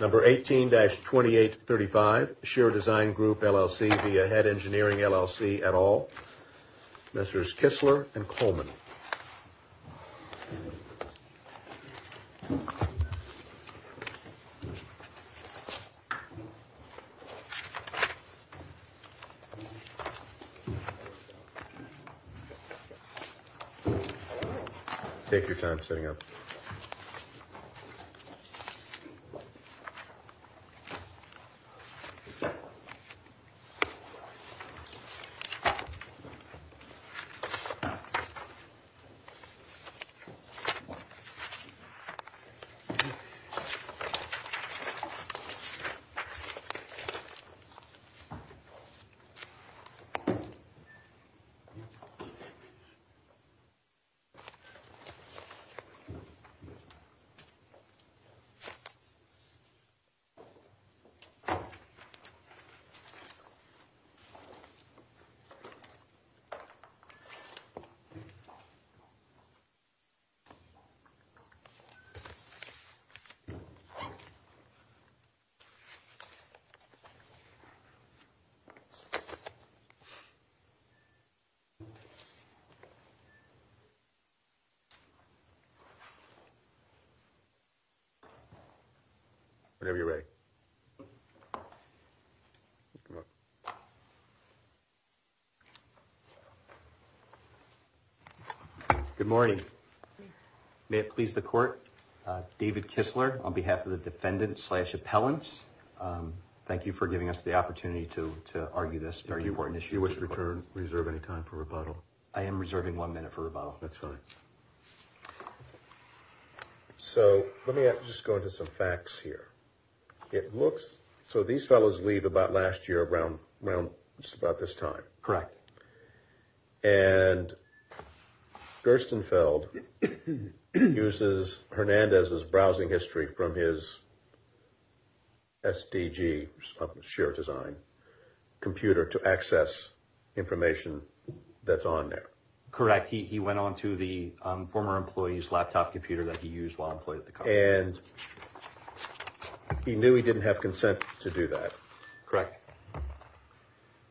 Number 18-2835,Scherer Design Group, LLC v. Ahead Engineering, LLC, et al. Messrs. Kistler and Coleman. Take your time setting up. Take your time. Take your time. Whenever you're ready. Good morning. May it please the court. David Kistler on behalf of the defendant slash appellants. Thank you for giving us the opportunity to argue this very important issue. You wish to return, reserve any time for rebuttal. I am reserving one minute for rebuttal. That's fine. So let me just go into some facts here. It looks so these fellows leave about last year around just about this time. Correct. And Gerstenfeld uses Hernandez's browsing history from his SDG,Scherer Design, computer to access information that's on there. Correct. He went on to the former employee's laptop computer that he used while employed at the company. And he knew he didn't have consent to do that. Correct.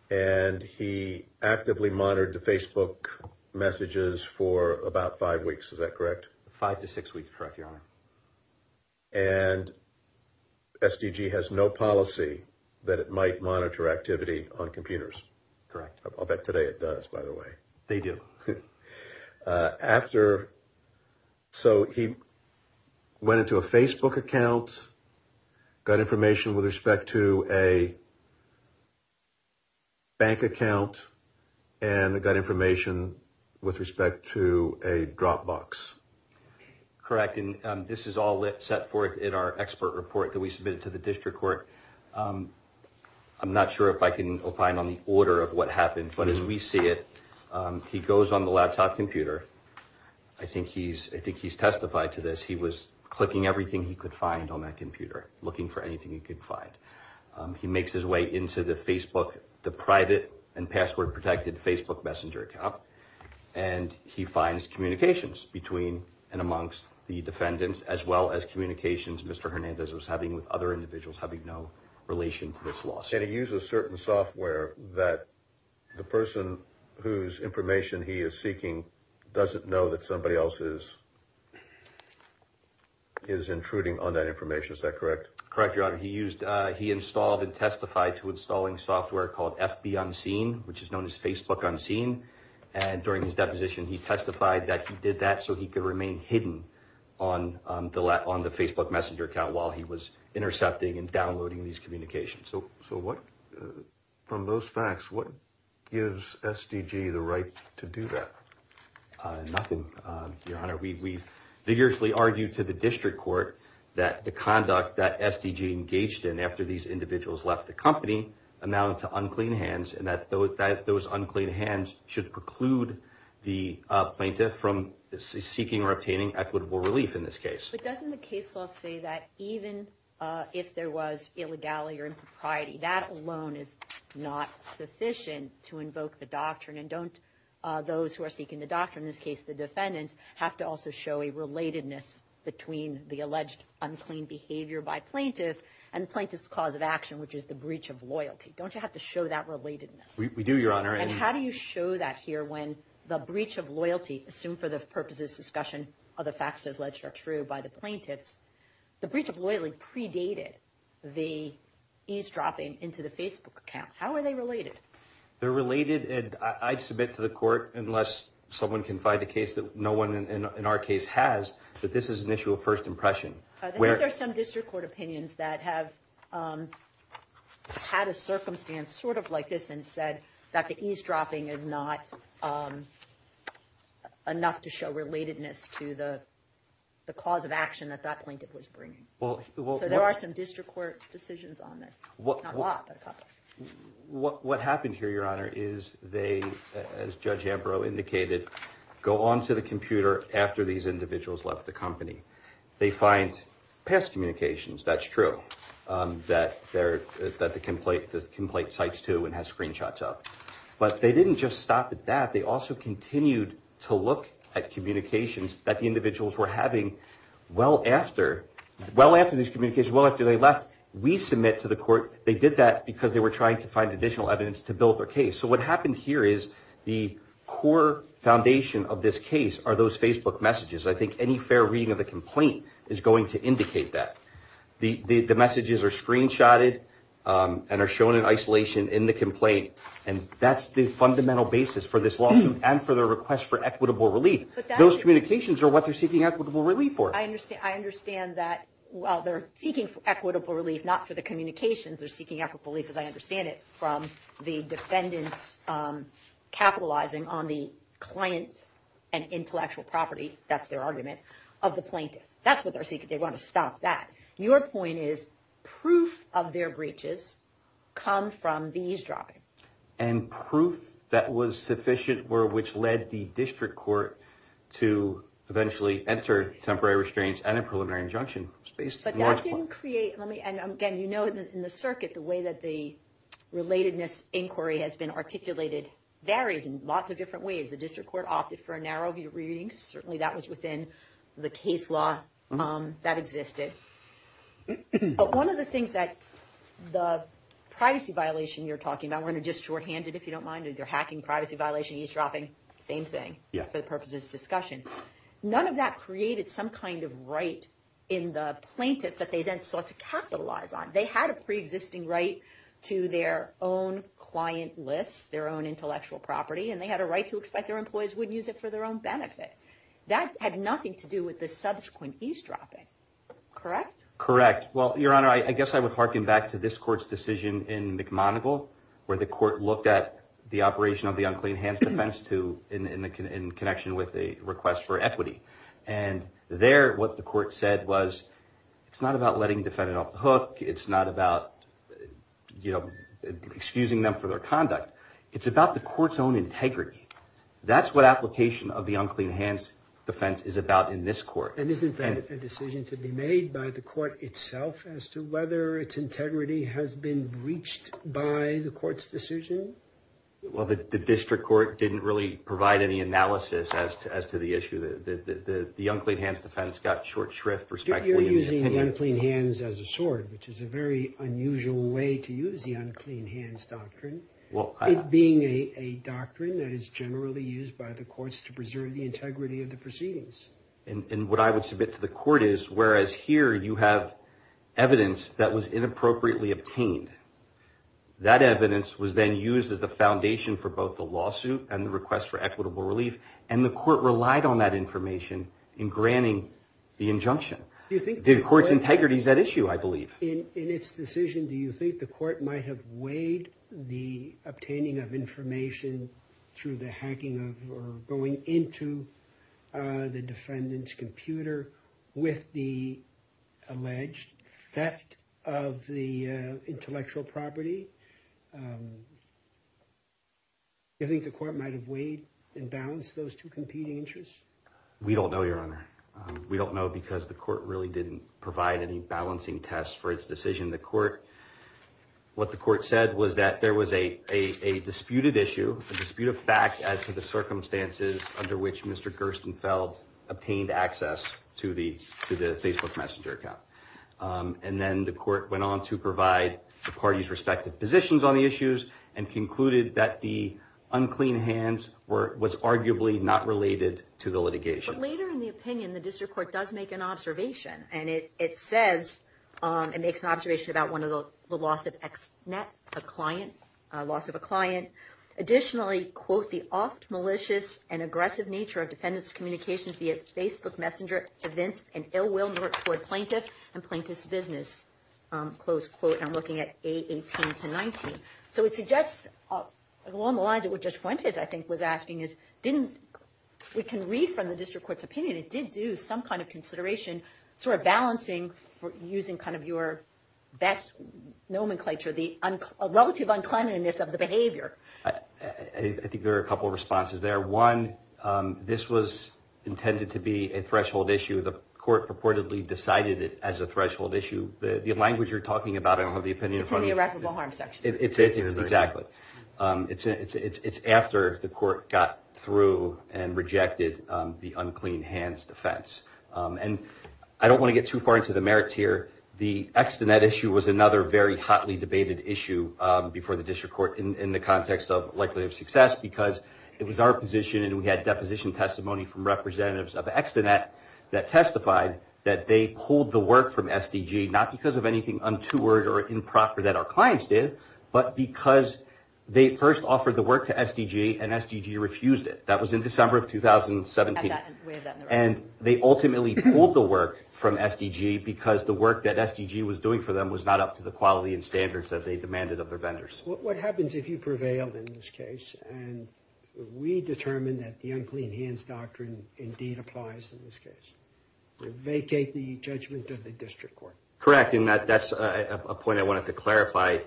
And he actively monitored the Facebook messages for about five weeks. Is that correct? Five to six weeks. Correct, Your Honor. And SDG has no policy that it might monitor activity on computers. Correct. I'll bet today it does, by the way. They do. After, so he went into a Facebook account, got information with respect to a bank account and got information with respect to a Dropbox. Correct. And this is all set forth in our expert report that we submitted to the district court. I'm not sure if I can opine on the order of what happened. But as we see it, he goes on the laptop computer. I think he's testified to this. He was clicking everything he could find on that computer, looking for anything he could find. He makes his way into the Facebook, the private and password protected Facebook messenger account. And he finds communications between and amongst the defendants as well as communications Mr. Hernandez was having with other individuals having no relation to this lawsuit. And he used a certain software that the person whose information he is seeking doesn't know that somebody else is intruding on that information. Is that correct? Correct, Your Honor. He installed and testified to installing software called FB Unseen, which is known as Facebook Unseen. And during his deposition, he testified that he did that so he could remain hidden on the Facebook messenger account while he was intercepting and downloading these communications. So from those facts, what gives SDG the right to do that? Nothing, Your Honor. We vigorously argued to the district court that the conduct that SDG engaged in after these individuals left the company amounted to unclean hands. And that those unclean hands should preclude the plaintiff from seeking or obtaining equitable relief in this case. But doesn't the case law say that even if there was illegality or impropriety, that alone is not sufficient to invoke the doctrine? And don't those who are seeking the doctrine, in this case the defendants, have to also show a relatedness between the alleged unclean behavior by plaintiff and plaintiff's cause of action, which is the breach of loyalty? Don't you have to show that relatedness? We do, Your Honor. And how do you show that here when the breach of loyalty, assumed for the purposes of discussion of the facts alleged are true by the plaintiffs, the breach of loyalty predated the eavesdropping into the Facebook account? How are they related? They're related, and I'd submit to the court, unless someone can find a case that no one in our case has, that this is an issue of first impression. I think there are some district court opinions that have had a circumstance sort of like this and said that the eavesdropping is not enough to show relatedness to the cause of action that that plaintiff was bringing. So there are some district court decisions on this. Not a lot, but a couple. What happened here, Your Honor, is they, as Judge Ambrose indicated, go on to the computer after these individuals left the company. They find past communications, that's true, that the complaint cites to and has screenshots of. But they didn't just stop at that. They also continued to look at communications that the individuals were having well after these communications, well after they left. We submit to the court, they did that because they were trying to find additional evidence to build their case. So what happened here is the core foundation of this case are those Facebook messages. I think any fair reading of the complaint is going to indicate that. The messages are screenshotted and are shown in isolation in the complaint. And that's the fundamental basis for this lawsuit and for the request for equitable relief. Those communications are what they're seeking equitable relief for. I understand that while they're seeking equitable relief, not for the communications, they're seeking equitable relief, as I understand it, from the defendants capitalizing on the client and intellectual property, that's their argument, of the plaintiff. That's what they're seeking, they want to stop that. Your point is proof of their breaches come from these driving. And proof that was sufficient were which led the district court to eventually enter temporary restraints and a preliminary injunction. But that didn't create, and again you know in the circuit the way that the relatedness inquiry has been articulated varies in lots of different ways. The district court opted for a narrow view reading. Certainly that was within the case law that existed. But one of the things that the privacy violation you're talking about, we're going to just shorthand it if you don't mind. They're hacking privacy violation, eavesdropping, same thing. For the purposes of discussion. None of that created some kind of right in the plaintiffs that they then sought to capitalize on. They had a pre-existing right to their own client list, their own intellectual property, and they had a right to expect their employees wouldn't use it for their own benefit. That had nothing to do with the subsequent eavesdropping. Correct? Correct. Well, Your Honor, I guess I would harken back to this court's decision in McMonigle where the court looked at the operation of the unclean hands defense in connection with a request for equity. And there what the court said was it's not about letting defendants off the hook. It's not about, you know, excusing them for their conduct. It's about the court's own integrity. That's what application of the unclean hands defense is about in this court. And isn't that a decision to be made by the court itself as to whether its integrity has been breached by the court's decision? Well, the district court didn't really provide any analysis as to the issue. The unclean hands defense got short shrift. You're using the unclean hands as a sword, which is a very unusual way to use the unclean hands doctrine. Well, being a doctrine that is generally used by the courts to preserve the integrity of the proceedings. And what I would submit to the court is whereas here you have evidence that was inappropriately obtained. That evidence was then used as the foundation for both the lawsuit and the request for equitable relief. And the court relied on that information in granting the injunction. The court's integrity is at issue, I believe. In its decision, do you think the court might have weighed the obtaining of information through the hacking of or going into the defendant's computer with the alleged theft of the intellectual property? I think the court might have weighed and balanced those two competing interests. We don't know because the court really didn't provide any balancing test for its decision. The court what the court said was that there was a a disputed issue, a dispute of fact as to the circumstances under which Mr. Gerstenfeld obtained access to the to the Facebook messenger account. And then the court went on to provide the party's respective positions on the issues and concluded that the unclean hands were was arguably not related to the litigation. But later in the opinion, the district court does make an observation. And it says it makes an observation about one of the loss of net, a client loss of a client. Additionally, quote, the oft malicious and aggressive nature of defendants communications via Facebook messenger events and ill will toward plaintiff and plaintiff's business. Close quote. I'm looking at a 18 to 19. So it suggests along the lines of what just went is, I think, was asking is didn't we can read from the district court's opinion? It did do some kind of consideration sort of balancing using kind of your best nomenclature, the relative unkindness of the behavior. I think there are a couple of responses there. One, this was intended to be a threshold issue. The court purportedly decided it as a threshold issue. The language you're talking about, I don't have the opinion. It's after the court got through and rejected the unclean hands defense. And I don't want to get too far into the merits here. The extent of that issue was another very hotly debated issue before the district court in the context of likely of success, because it was our position. And we had deposition testimony from representatives of X to that that testified that they pulled the work from SDG, not because of anything untoward or improper that our clients did, but because they first offered the work to SDG and SDG refused it. That was in December of 2017. And they ultimately pulled the work from SDG because the work that SDG was doing for them was not up to the quality and standards that they demanded of their vendors. What happens if you prevail in this case and we determine that the unclean hands doctrine indeed applies in this case? Vacate the judgment of the district court? Correct. And that's a point I wanted to clarify.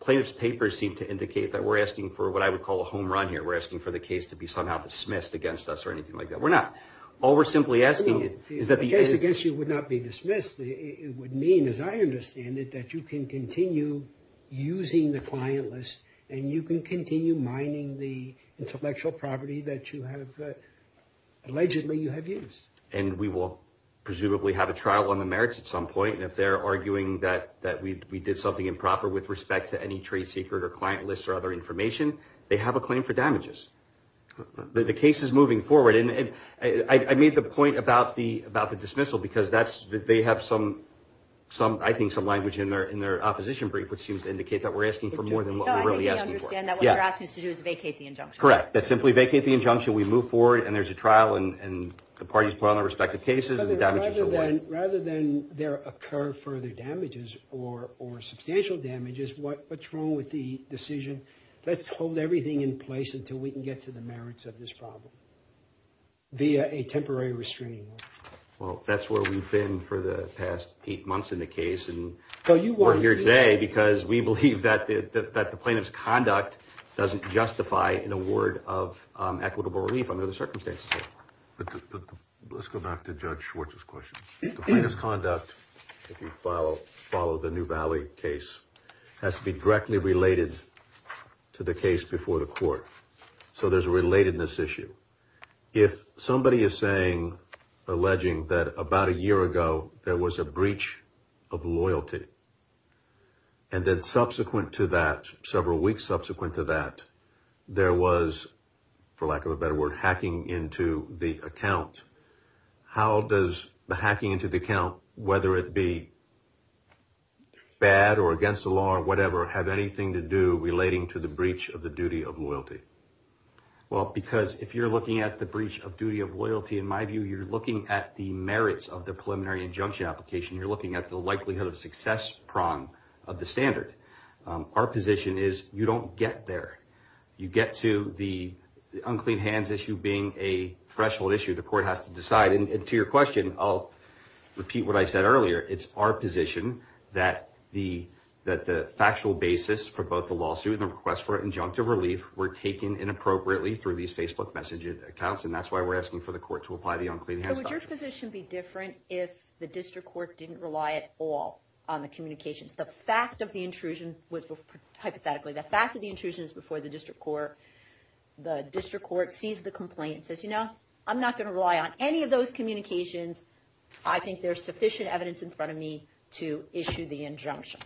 Plaintiff's papers seem to indicate that we're asking for what I would call a home run here. We're asking for the case to be somehow dismissed against us or anything like that. The case against you would not be dismissed. It would mean, as I understand it, that you can continue using the client list and you can continue mining the intellectual property that you have allegedly you have used. And we will presumably have a trial on the merits at some point. And if they're arguing that we did something improper with respect to any trade secret or client list or other information, they have a claim for damages. The case is moving forward. And I made the point about the dismissal because they have some, I think, some language in their opposition brief which seems to indicate that we're asking for more than what we're really asking for. We understand that what you're asking us to do is vacate the injunction. Correct. That's simply vacate the injunction. We move forward and there's a trial and the parties put on their respective cases. Rather than there occur further damages or substantial damages, what's wrong with the decision? Let's hold everything in place until we can get to the merits of this problem via a temporary restraining order. Well, that's where we've been for the past eight months in the case. And we're here today because we believe that the plaintiff's conduct doesn't justify an award of equitable relief under the circumstances. Let's go back to Judge Schwartz's question. The plaintiff's conduct, if you follow the New Valley case, has to be directly related to the case before the court. So there's a relatedness issue. If somebody is saying, alleging, that about a year ago there was a breach of loyalty and then subsequent to that, several weeks subsequent to that, there was, for lack of a better word, hacking into the account, how does the hacking into the account, whether it be bad or against the law or whatever, have anything to do relating to the breach of the duty of loyalty? Well, because if you're looking at the breach of duty of loyalty, in my view, you're looking at the merits of the preliminary injunction application. You're looking at the likelihood of success prong of the standard. Our position is you don't get there. You get to the unclean hands issue being a threshold issue. The court has to decide. And to your question, I'll repeat what I said earlier. It's our position that the factual basis for both the lawsuit and the request for injunctive relief were taken inappropriately through these Facebook messaging accounts. And that's why we're asking for the court to apply the unclean hands doctrine. So would your position be different if the district court didn't rely at all on the communications? The fact of the intrusion was, hypothetically, the fact of the intrusion is before the district court. The district court sees the complaint, says, you know, I'm not going to rely on any of those communications. I think there's sufficient evidence in front of me to issue the injunction.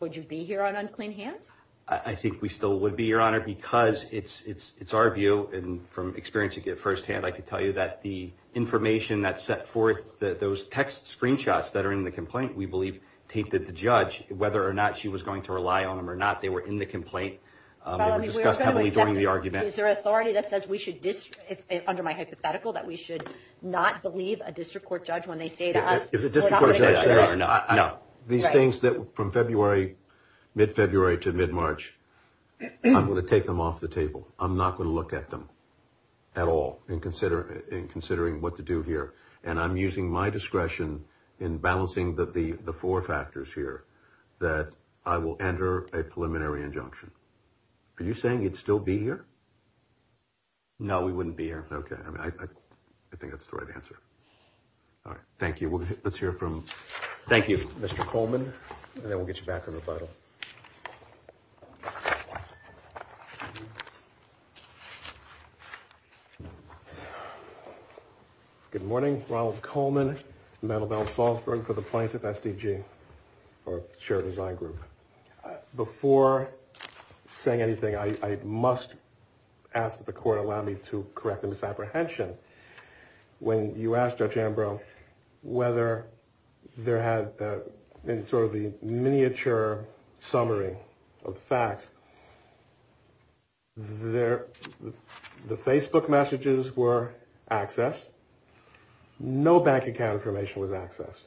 Would you be here on unclean hands? I think we still would be, Your Honor, because it's it's it's our view. And from experience you get firsthand, I can tell you that the information that set forth those text screenshots that are in the complaint, we believe, taped that the judge, whether or not she was going to rely on him or not, they were in the complaint. Is there authority that says we should, under my hypothetical, that we should not believe a district court judge when they say to us? No, these things that from February, mid-February to mid-March, I'm going to take them off the table. I'm not going to look at them at all and consider in considering what to do here. And I'm using my discretion in balancing the four factors here that I will enter a preliminary injunction. Are you saying you'd still be here? No, we wouldn't be here. Okay. I think that's the right answer. All right. Thank you. Let's hear from. Thank you, Mr. Coleman. And then we'll get you back to the final. Good morning, Ronald Coleman. for the plaintiff SDG or shared design group. Before saying anything, I must ask that the court allow me to correct the misapprehension. When you asked Judge Ambrose whether there had been sort of the miniature summary of the facts. There the Facebook messages were accessed. No bank account information was accessed.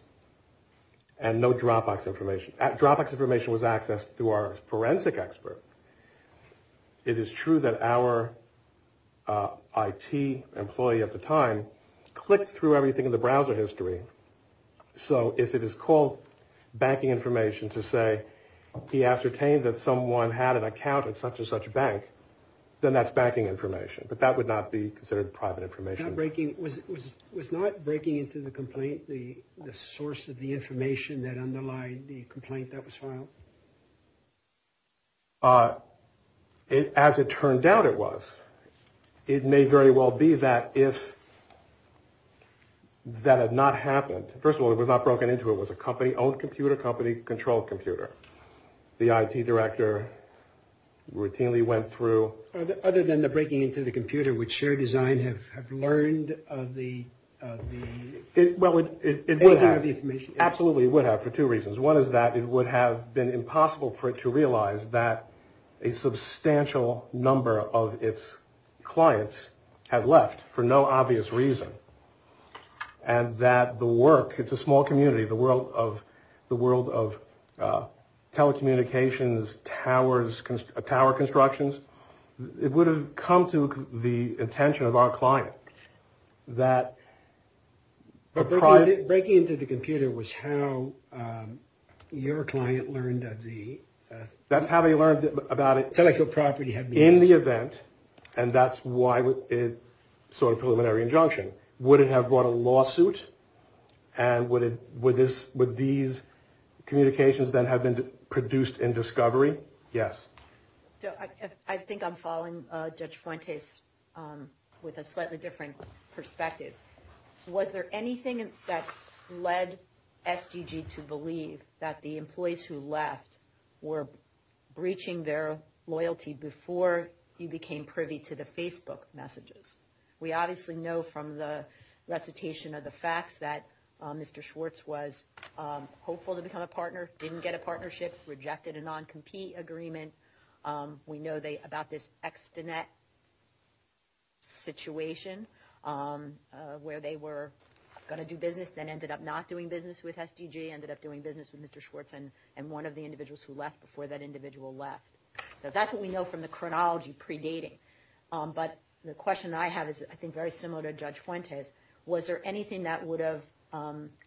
And no Dropbox information at Dropbox information was accessed through our forensic expert. It is true that our I.T. employee at the time clicked through everything in the browser history. So if it is called banking information to say he ascertained that someone had an account at such and such a bank, then that's banking information. But that would not be considered private information. Breaking was was was not breaking into the complaint. The source of the information that underlined the complaint that was filed. As it turned out, it was. It may very well be that if that had not happened. First of all, it was not broken into. It was a company owned computer company control computer. The I.T. director routinely went through other than the breaking into the computer, which shared design have learned of the. Well, it would have absolutely would have for two reasons. One is that it would have been impossible for it to realize that a substantial number of its clients have left for no obvious reason. And that the work, it's a small community, the world of the world of telecommunications towers, tower constructions. It would have come to the attention of our client that. But breaking into the computer was how your client learned of the. That's how they learned about it. So I feel property had been in the event. And that's why it saw a preliminary injunction. Would it have brought a lawsuit? And would it with this with these communications that have been produced in discovery? Yes. I think I'm following Judge Fuentes with a slightly different perspective. Was there anything that led SDG to believe that the employees who left were breaching their loyalty before you became privy to the Facebook messages? We obviously know from the recitation of the facts that Mr. partner didn't get a partnership, rejected a non-compete agreement. We know they about this extant that. Situation where they were going to do business, then ended up not doing business with SDG, ended up doing business with Mr. Schwartz and and one of the individuals who left before that individual left. That's what we know from the chronology predating. But the question I have is, I think, very similar to Judge Fuentes. Was there anything that would have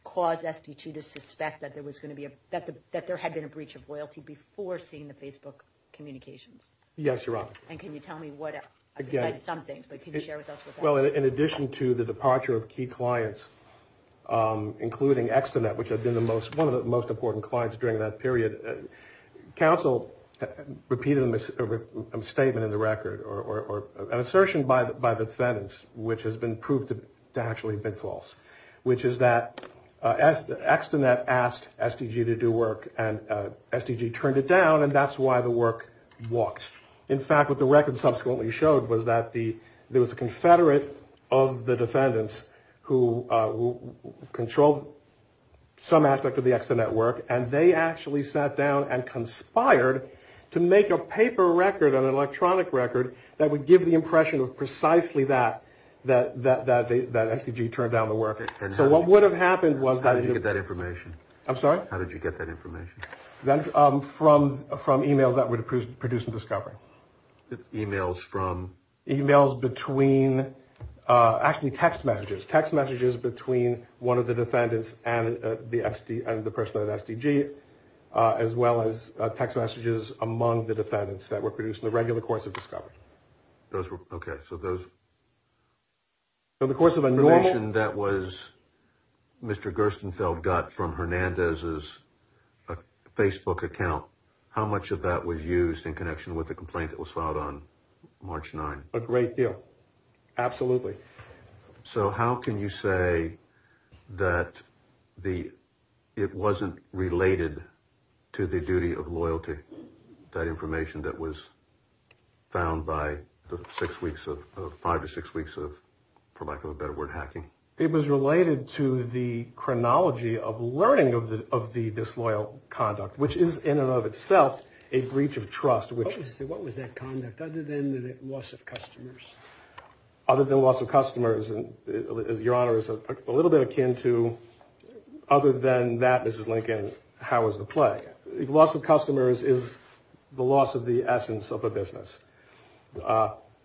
caused SDG to suspect that there was going to be that, that there had been a breach of loyalty before seeing the Facebook communications? Yes, you're right. And can you tell me what some things they can share with us? Well, in addition to the departure of key clients, including Externet, which have been the most one of the most important clients during that period, counsel repeated a misstatement in the record or an assertion by the defendants, which has been proved to actually have been false, which is that as the extant that asked SDG to do work and SDG turned it down. And that's why the work walks. In fact, what the record subsequently showed was that the there was a confederate of the defendants who control some aspect of the and conspired to make a paper record on an electronic record that would give the impression of precisely that, that that that SDG turned down the work. And so what would have happened was that you get that information. I'm sorry. How did you get that information? From from e-mails that would produce a discovery. E-mails from e-mails between actually text messages, text messages between one of the defendants and the SD and the person that SDG, as well as text messages among the defendants that were produced in the regular course of discovery. Those were OK. So those. So the course of a nation that was Mr. Gerstenfeld got from Hernandez's Facebook account, how much of that was used in connection with the complaint that was filed on March 9? Absolutely. So how can you say that the it wasn't related to the duty of loyalty? That information that was found by the six weeks of five or six weeks of, for lack of a better word, hacking. It was related to the chronology of learning of the of the disloyal conduct, which is in and of itself a breach of trust. What was that conduct other than the loss of customers, other than loss of customers? And your honor is a little bit akin to other than that. This is Lincoln. How is the play loss of customers is the loss of the essence of a business.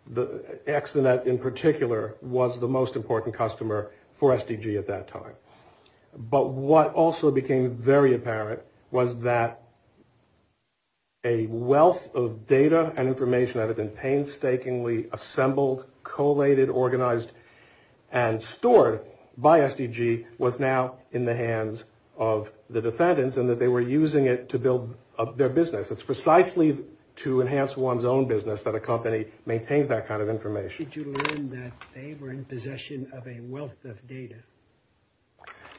The accident in particular was the most important customer for SDG at that time. But what also became very apparent was that. A wealth of data and information that had been painstakingly assembled, collated, organized and stored by SDG was now in the hands of the defendants and that they were using it to build up their business. It's precisely to enhance one's own business that a company maintains that kind of information. How did you learn that they were in possession of a wealth of data?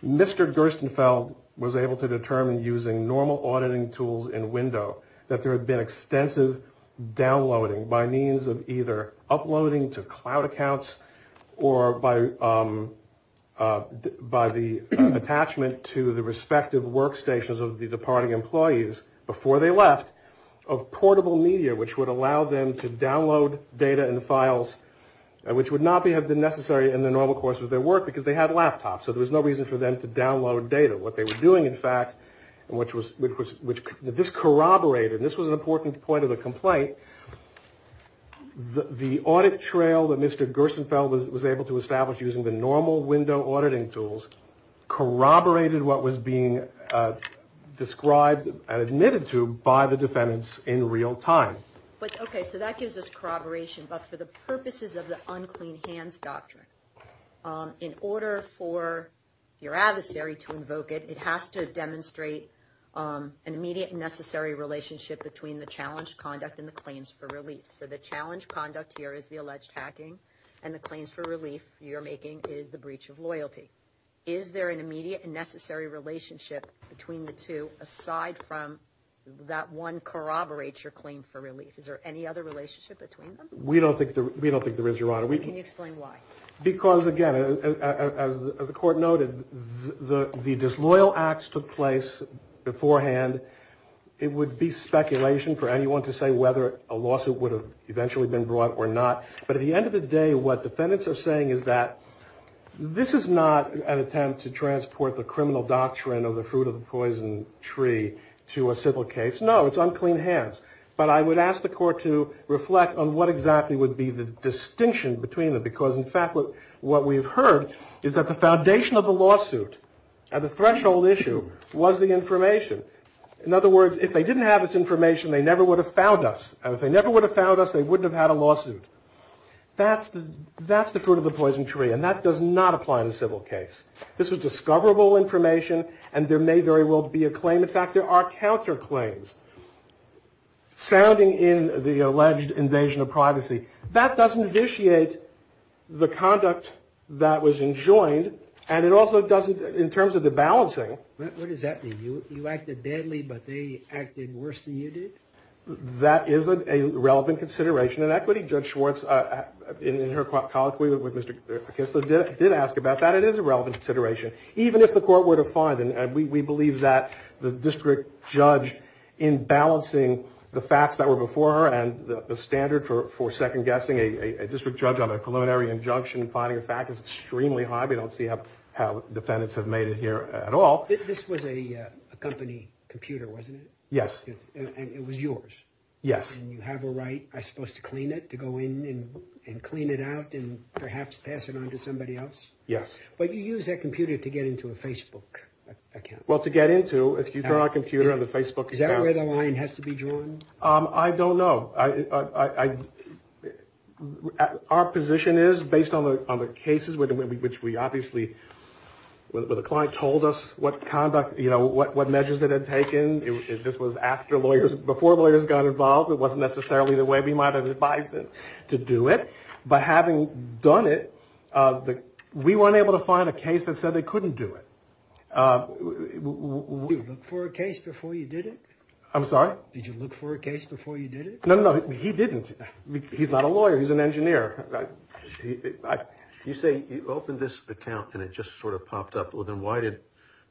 Mr. Gerstenfeld was able to determine using normal auditing tools and window that there had been extensive downloading by means of either uploading to cloud accounts or by by the attachment to the respective workstations of the departing employees before they left of portable media, which would allow them to download data and files, which would not be necessary in the normal course of their work because they had laptops. So there was no reason for them to download data. What they were doing, in fact, which was which this corroborated. This was an important point of the complaint. The audit trail that Mr. Gerstenfeld was able to establish using the normal window auditing tools corroborated what was being described and admitted to by the defendants in real time. But OK, so that gives us corroboration. But for the purposes of the unclean hands doctrine, in order for your adversary to invoke it, it has to demonstrate an immediate and necessary relationship between the challenged conduct and the claims for relief. So the challenge conduct here is the alleged hacking and the claims for relief you're making is the breach of loyalty. Is there an immediate and necessary relationship between the two, aside from that one corroborates your claim for relief? Is there any other relationship between them? We don't think we don't think there is. Your Honor, we can explain why. Because, again, as the court noted, the disloyal acts took place beforehand. It would be speculation for anyone to say whether a lawsuit would have eventually been brought or not. But at the end of the day, what defendants are saying is that this is not an attempt to transport the criminal doctrine of the fruit of the poison tree to a civil case. No, it's unclean hands. But I would ask the court to reflect on what exactly would be the distinction between them. Because, in fact, what we've heard is that the foundation of the lawsuit and the threshold issue was the information. In other words, if they didn't have this information, they never would have found us. And if they never would have found us, they wouldn't have had a lawsuit. That's the that's the fruit of the poison tree. And that does not apply in a civil case. This is discoverable information. And there may very well be a claim. In fact, there are counterclaims sounding in the alleged invasion of privacy that doesn't initiate the conduct that was enjoined. And it also doesn't in terms of the balancing. What does that mean? You acted deadly, but they acted worse than you did. That is a relevant consideration and equity. Judge Schwartz, in her colloquy with Mr. Kissler, did ask about that. It is a relevant consideration, even if the court were to find. And we believe that the district judge in balancing the facts that were before her and the standard for second guessing a district judge on a preliminary injunction, finding a fact is extremely high. We don't see how defendants have made it here at all. This was a company computer, wasn't it? Yes. And it was yours. Yes. And you have a right. I supposed to clean it, to go in and clean it out and perhaps pass it on to somebody else. Yes. But you use that computer to get into a Facebook account. Well, to get into if you turn on a computer on the Facebook. Is that where the line has to be drawn? I don't know. I our position is based on the on the cases with which we obviously with the client told us what conduct, you know, what what measures it had taken. This was after lawyers before lawyers got involved. It wasn't necessarily the way we might have advised them to do it. But having done it, we weren't able to find a case that said they couldn't do it for a case before you did it. I'm sorry. Did you look for a case before you did it? No, no, he didn't. He's not a lawyer. He's an engineer. You say you opened this account and it just sort of popped up. Well, then why did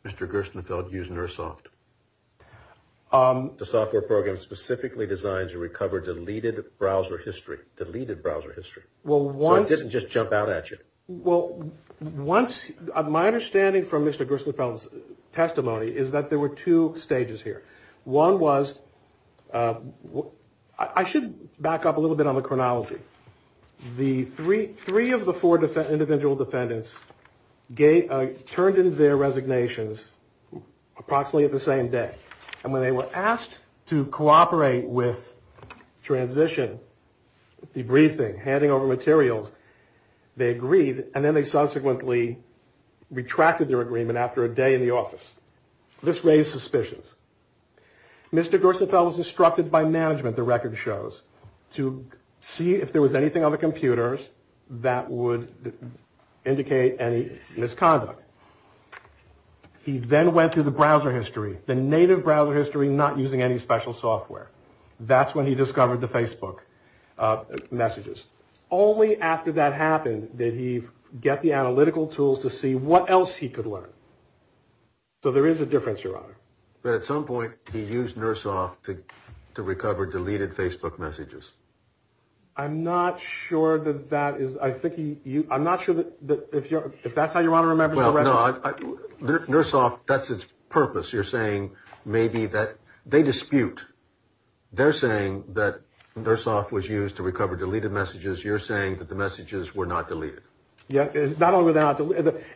Mr. Gerstenfeld use nurse soft? The software program specifically designed to recover deleted browser history, deleted browser history. Well, why didn't just jump out at you? Well, once my understanding from Mr. Gerstenfeld's testimony is that there were two stages here. One was what I should back up a little bit on the chronology. The three three of the four defendants, individual defendants turned in their resignations approximately at the same day. And when they were asked to cooperate with transition, debriefing, handing over materials, they agreed. And then they subsequently retracted their agreement after a day in the office. This raised suspicions. Mr. Gerstenfeld was instructed by management. The record shows to see if there was anything on the computers that would indicate any misconduct. He then went to the browser history, the native browser history, not using any special software. That's when he discovered the Facebook messages. Only after that happened did he get the analytical tools to see what else he could learn. So there is a difference. You're right. But at some point he used nurse off to recover deleted Facebook messages. I'm not sure that that is. I think you I'm not sure that if you're if that's how you want to remember. Nurse off. That's its purpose. You're saying maybe that they dispute. They're saying that their soft was used to recover deleted messages. You're saying that the messages were not deleted. Yeah. Not only that.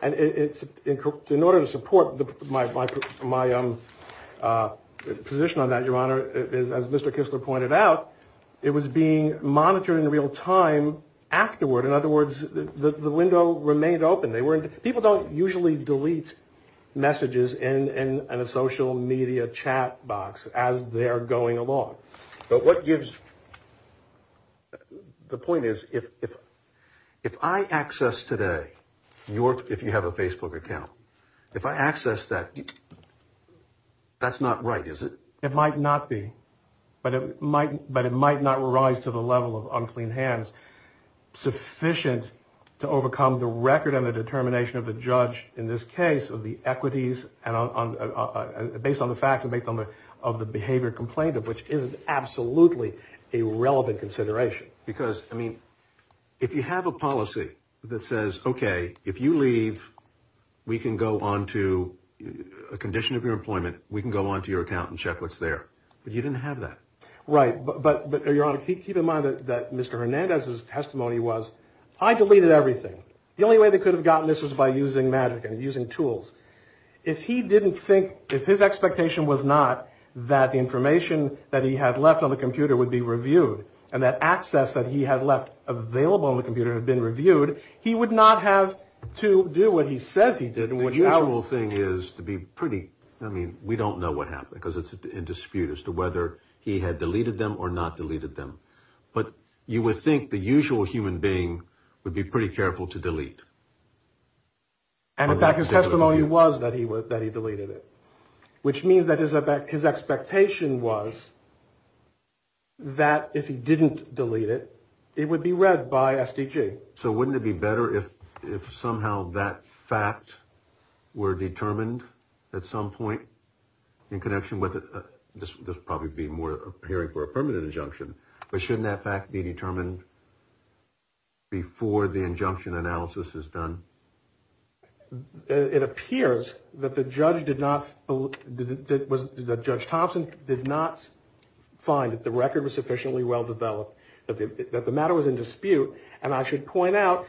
And it's in order to support my my my position on that. Your Honor, as Mr. Kistler pointed out, it was being monitored in real time afterward. In other words, the window remained open. They weren't. People don't usually delete messages in a social media chat box as they're going along. But what gives the point is, if if if I access today, you're if you have a Facebook account, if I access that. That's not right, is it? It might not be. But it might. But it might not rise to the level of unclean hands sufficient to overcome the record and the determination of the judge. In this case of the equities and based on the facts and based on the of the behavior complained of, which is absolutely a relevant consideration. Because, I mean, if you have a policy that says, OK, if you leave, we can go on to a condition of your employment. We can go on to your account and check what's there. But you didn't have that. Right. But but you're on to keep in mind that Mr. Hernandez's testimony was I deleted everything. The only way they could have gotten this was by using magic and using tools. If he didn't think if his expectation was not that information that he had left on the computer would be reviewed and that access that he had left available on the computer had been reviewed, he would not have to do what he says he did. The whole thing is to be pretty. I mean, we don't know what happened because it's in dispute as to whether he had deleted them or not deleted them. But you would think the usual human being would be pretty careful to delete. And in fact, his testimony was that he was that he deleted it, which means that his his expectation was. That if he didn't delete it, it would be read by SDG. So wouldn't it be better if if somehow that fact were determined at some point in connection with this? There's probably be more hearing for a permanent injunction. But shouldn't that fact be determined? Before the injunction analysis is done, it appears that the judge did not. That was the judge. Thompson did not find that the record was sufficiently well-developed, that the matter was in dispute. And I should point out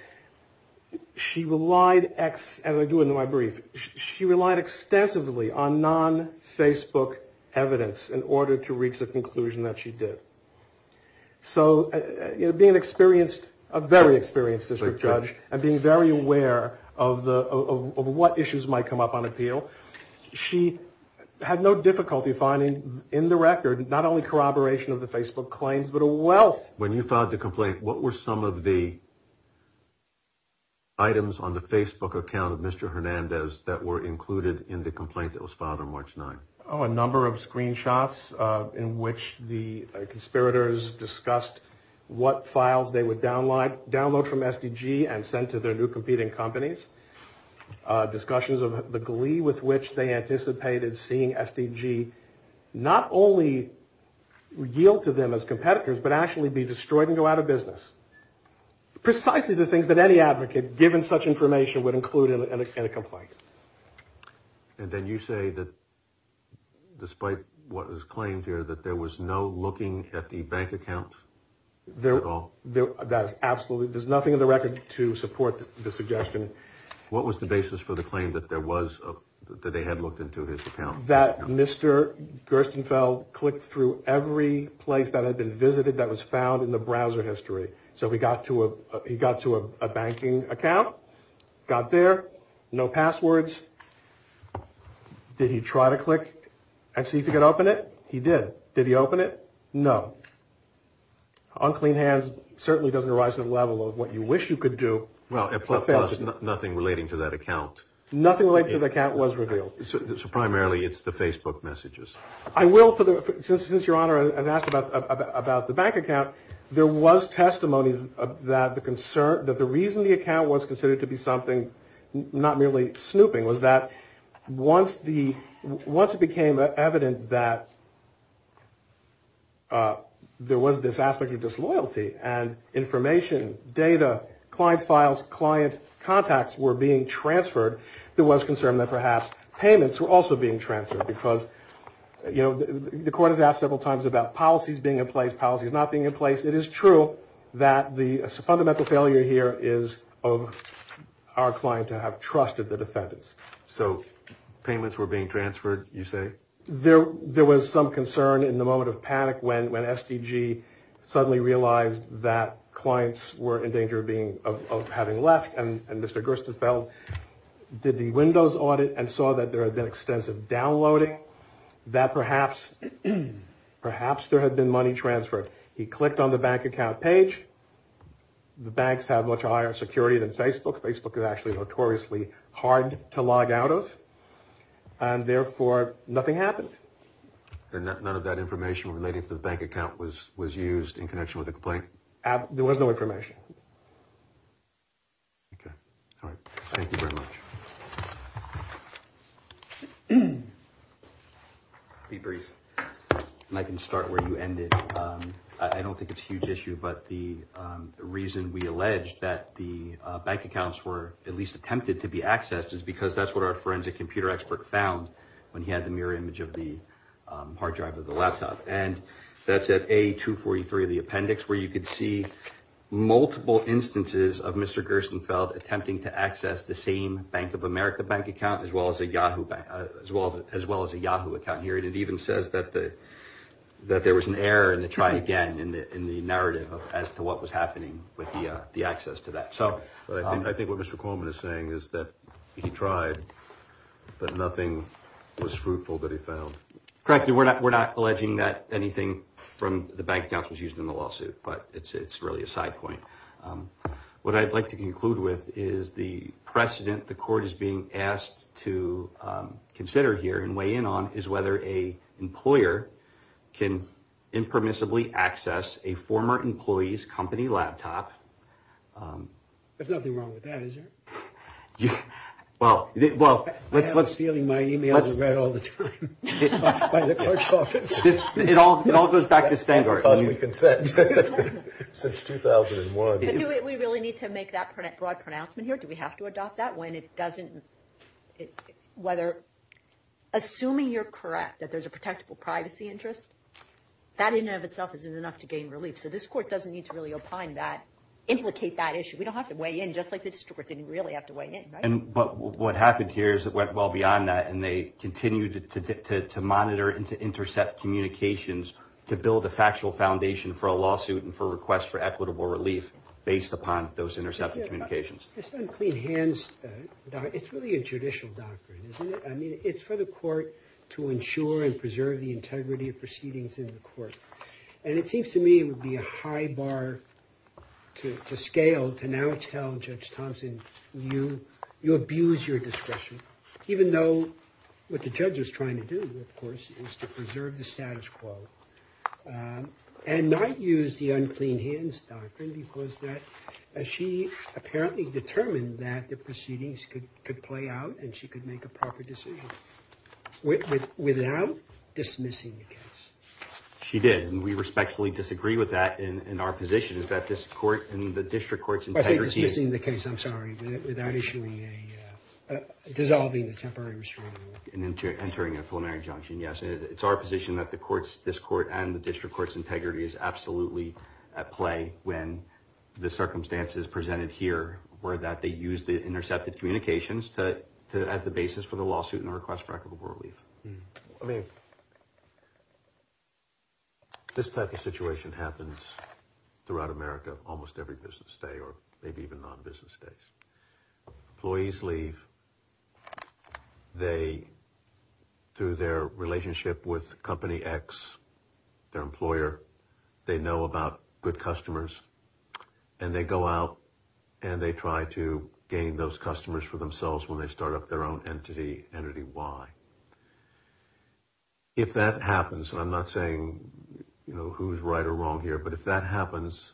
she relied as I do in my brief. She relied extensively on non Facebook evidence in order to reach the conclusion that she did. So being experienced, a very experienced district judge and being very aware of the of what issues might come up on appeal, she had no difficulty finding in the record not only corroboration of the Facebook claims, but a wealth. When you filed the complaint, what were some of the. Items on the Facebook account of Mr. Hernandez that were included in the complaint that was filed on March 9th. Oh, a number of screenshots in which the conspirators discussed what files they would download, download from SDG and send to their new competing companies. Discussions of the glee with which they anticipated seeing SDG not only yield to them as competitors, but actually be destroyed and go out of business. Precisely the things that any advocate given such information would include in a complaint. And then you say that despite what was claimed here, that there was no looking at the bank account. They're all there. That's absolutely. There's nothing in the record to support the suggestion. What was the basis for the claim that there was that they had looked into his account? That Mr. Gerstenfeld clicked through every place that had been visited that was found in the browser history. So we got to a he got to a banking account, got there. No passwords. Did he try to click and see if you could open it? He did. Did he open it? No. Unclean hands certainly doesn't arise at a level of what you wish you could do. Well, nothing relating to that account. Nothing related to the account was revealed. Primarily it's the Facebook messages. I will. Since your honor, I've asked about the bank account. There was testimony that the concern that the reason the account was considered to be something not merely snooping, was that once the once it became evident that. There was this aspect of disloyalty and information, data, client files, client contacts were being transferred. There was concern that perhaps payments were also being transferred because, you know, the court has asked several times about policies being in place, policies not being in place. It is true that the fundamental failure here is of our client to have trusted the defendants. So payments were being transferred. You say there there was some concern in the moment of panic. When when SDG suddenly realized that clients were in danger of being of having left. And Mr. Gerstenfeld did the windows audit and saw that there had been extensive downloading that perhaps perhaps there had been money transferred. He clicked on the bank account page. The banks have much higher security than Facebook. Facebook is actually notoriously hard to log out of. And therefore, nothing happened. None of that information relating to the bank account was was used in connection with the complaint. There was no information. Thank you very much. Be brief and I can start where you ended. I don't think it's a huge issue. But the reason we allege that the bank accounts were at least attempted to be accessed is because that's what our forensic computer expert found when he had the mirror image of the hard drive of the laptop. And that's at a two forty three, the appendix where you could see multiple instances of Mr. Gerstenfeld attempting to access the same Bank of America bank account as well as a Yahoo as well as well as a Yahoo account here. And it even says that the that there was an error in the try again in the in the narrative as to what was happening with the access to that. So I think what Mr. Coleman is saying is that he tried, but nothing was fruitful that he found. Correct. We're not we're not alleging that anything from the bank accounts was used in the lawsuit, but it's it's really a side point. What I'd like to conclude with is the precedent the court is being asked to consider here and weigh in on is whether a employer can impermissibly access a former employees company laptop. There's nothing wrong with that, is there? Well, well, let's let's see. My email is read all the time by the court's office. It all it all goes back to standard because we consent since 2001. Do we really need to make that broad pronouncement here? Do we have to adopt that when it doesn't? Whether assuming you're correct that there's a protectable privacy interest, that in and of itself isn't enough to gain relief. So this court doesn't need to really opine that implicate that issue. We don't have to weigh in just like the district didn't really have to weigh in. But what happened here is it went well beyond that, and they continued to monitor and to intercept communications to build a factual foundation for a lawsuit and for request for equitable relief based upon those intercepted communications. It's not a clean hands. It's really a judicial doctrine, isn't it? I mean, it's for the court to ensure and preserve the integrity of proceedings in the court. And it seems to me it would be a high bar to scale to now tell Judge Thompson you you abuse your discretion, even though what the judge is trying to do, of course, is to preserve the status quo and not use the unclean hands doctrine. Because that she apparently determined that the proceedings could could play out and she could make a proper decision without dismissing the case. She did. And we respectfully disagree with that. And our position is that this court and the district court's integrity is in the case. I'm sorry. Without issuing a dissolving the temporary restraint and entering a preliminary junction. Yes, it's our position that the courts, this court and the district court's integrity is absolutely at play. When the circumstances presented here were that they used the intercepted communications to as the basis for the lawsuit and request for equitable relief. I mean, this type of situation happens throughout America almost every business day or maybe even non-business days. Employees leave. They do their relationship with Company X, their employer. They know about good customers and they go out and they try to gain those customers for themselves when they start up their own entity, entity Y. If that happens, I'm not saying who's right or wrong here, but if that happens,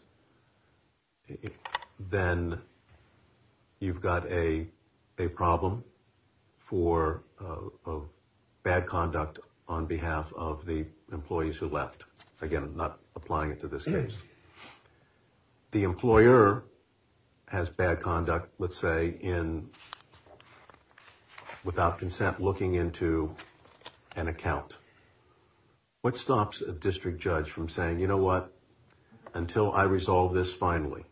then you've got a problem for bad conduct on behalf of the employees who left. Again, I'm not applying it to this case. The employer has bad conduct, let's say, in without consent looking into an account. What stops a district judge from saying, you know what, until I resolve this finally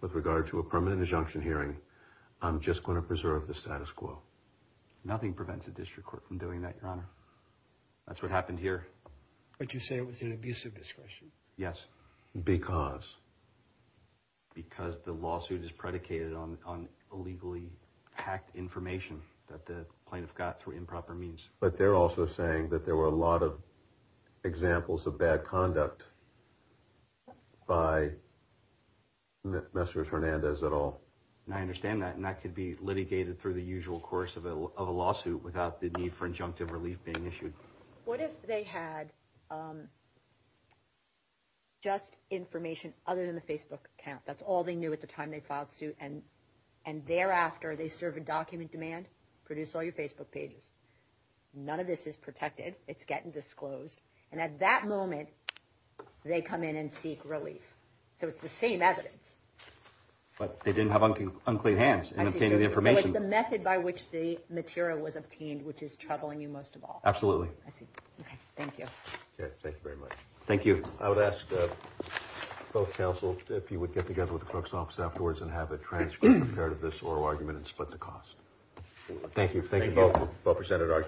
with regard to a permanent injunction hearing, I'm just going to preserve the status quo. Nothing prevents a district court from doing that, Your Honor. That's what happened here. But you say it was an abuse of discretion? Yes. Because? Because the lawsuit is predicated on illegally hacked information that the plaintiff got through improper means. But they're also saying that there were a lot of examples of bad conduct by Messrs. Hernandez et al. I understand that and that could be litigated through the usual course of a lawsuit without the need for injunctive relief being issued. What if they had just information other than the Facebook account? That's all they knew at the time they filed suit, and thereafter they serve a document demand, produce all your Facebook pages. None of this is protected. It's getting disclosed. And at that moment, they come in and seek relief. So it's the same evidence. But they didn't have unclean hands in obtaining the information. So it's the method by which the material was obtained which is troubling you most of all. Absolutely. Thank you. Thank you very much. Thank you. I would ask both counsel if you would get together with the clerk's office afterwards and have a transcript of this oral argument and split the cost. Thank you. Thank you both for presenting arguments.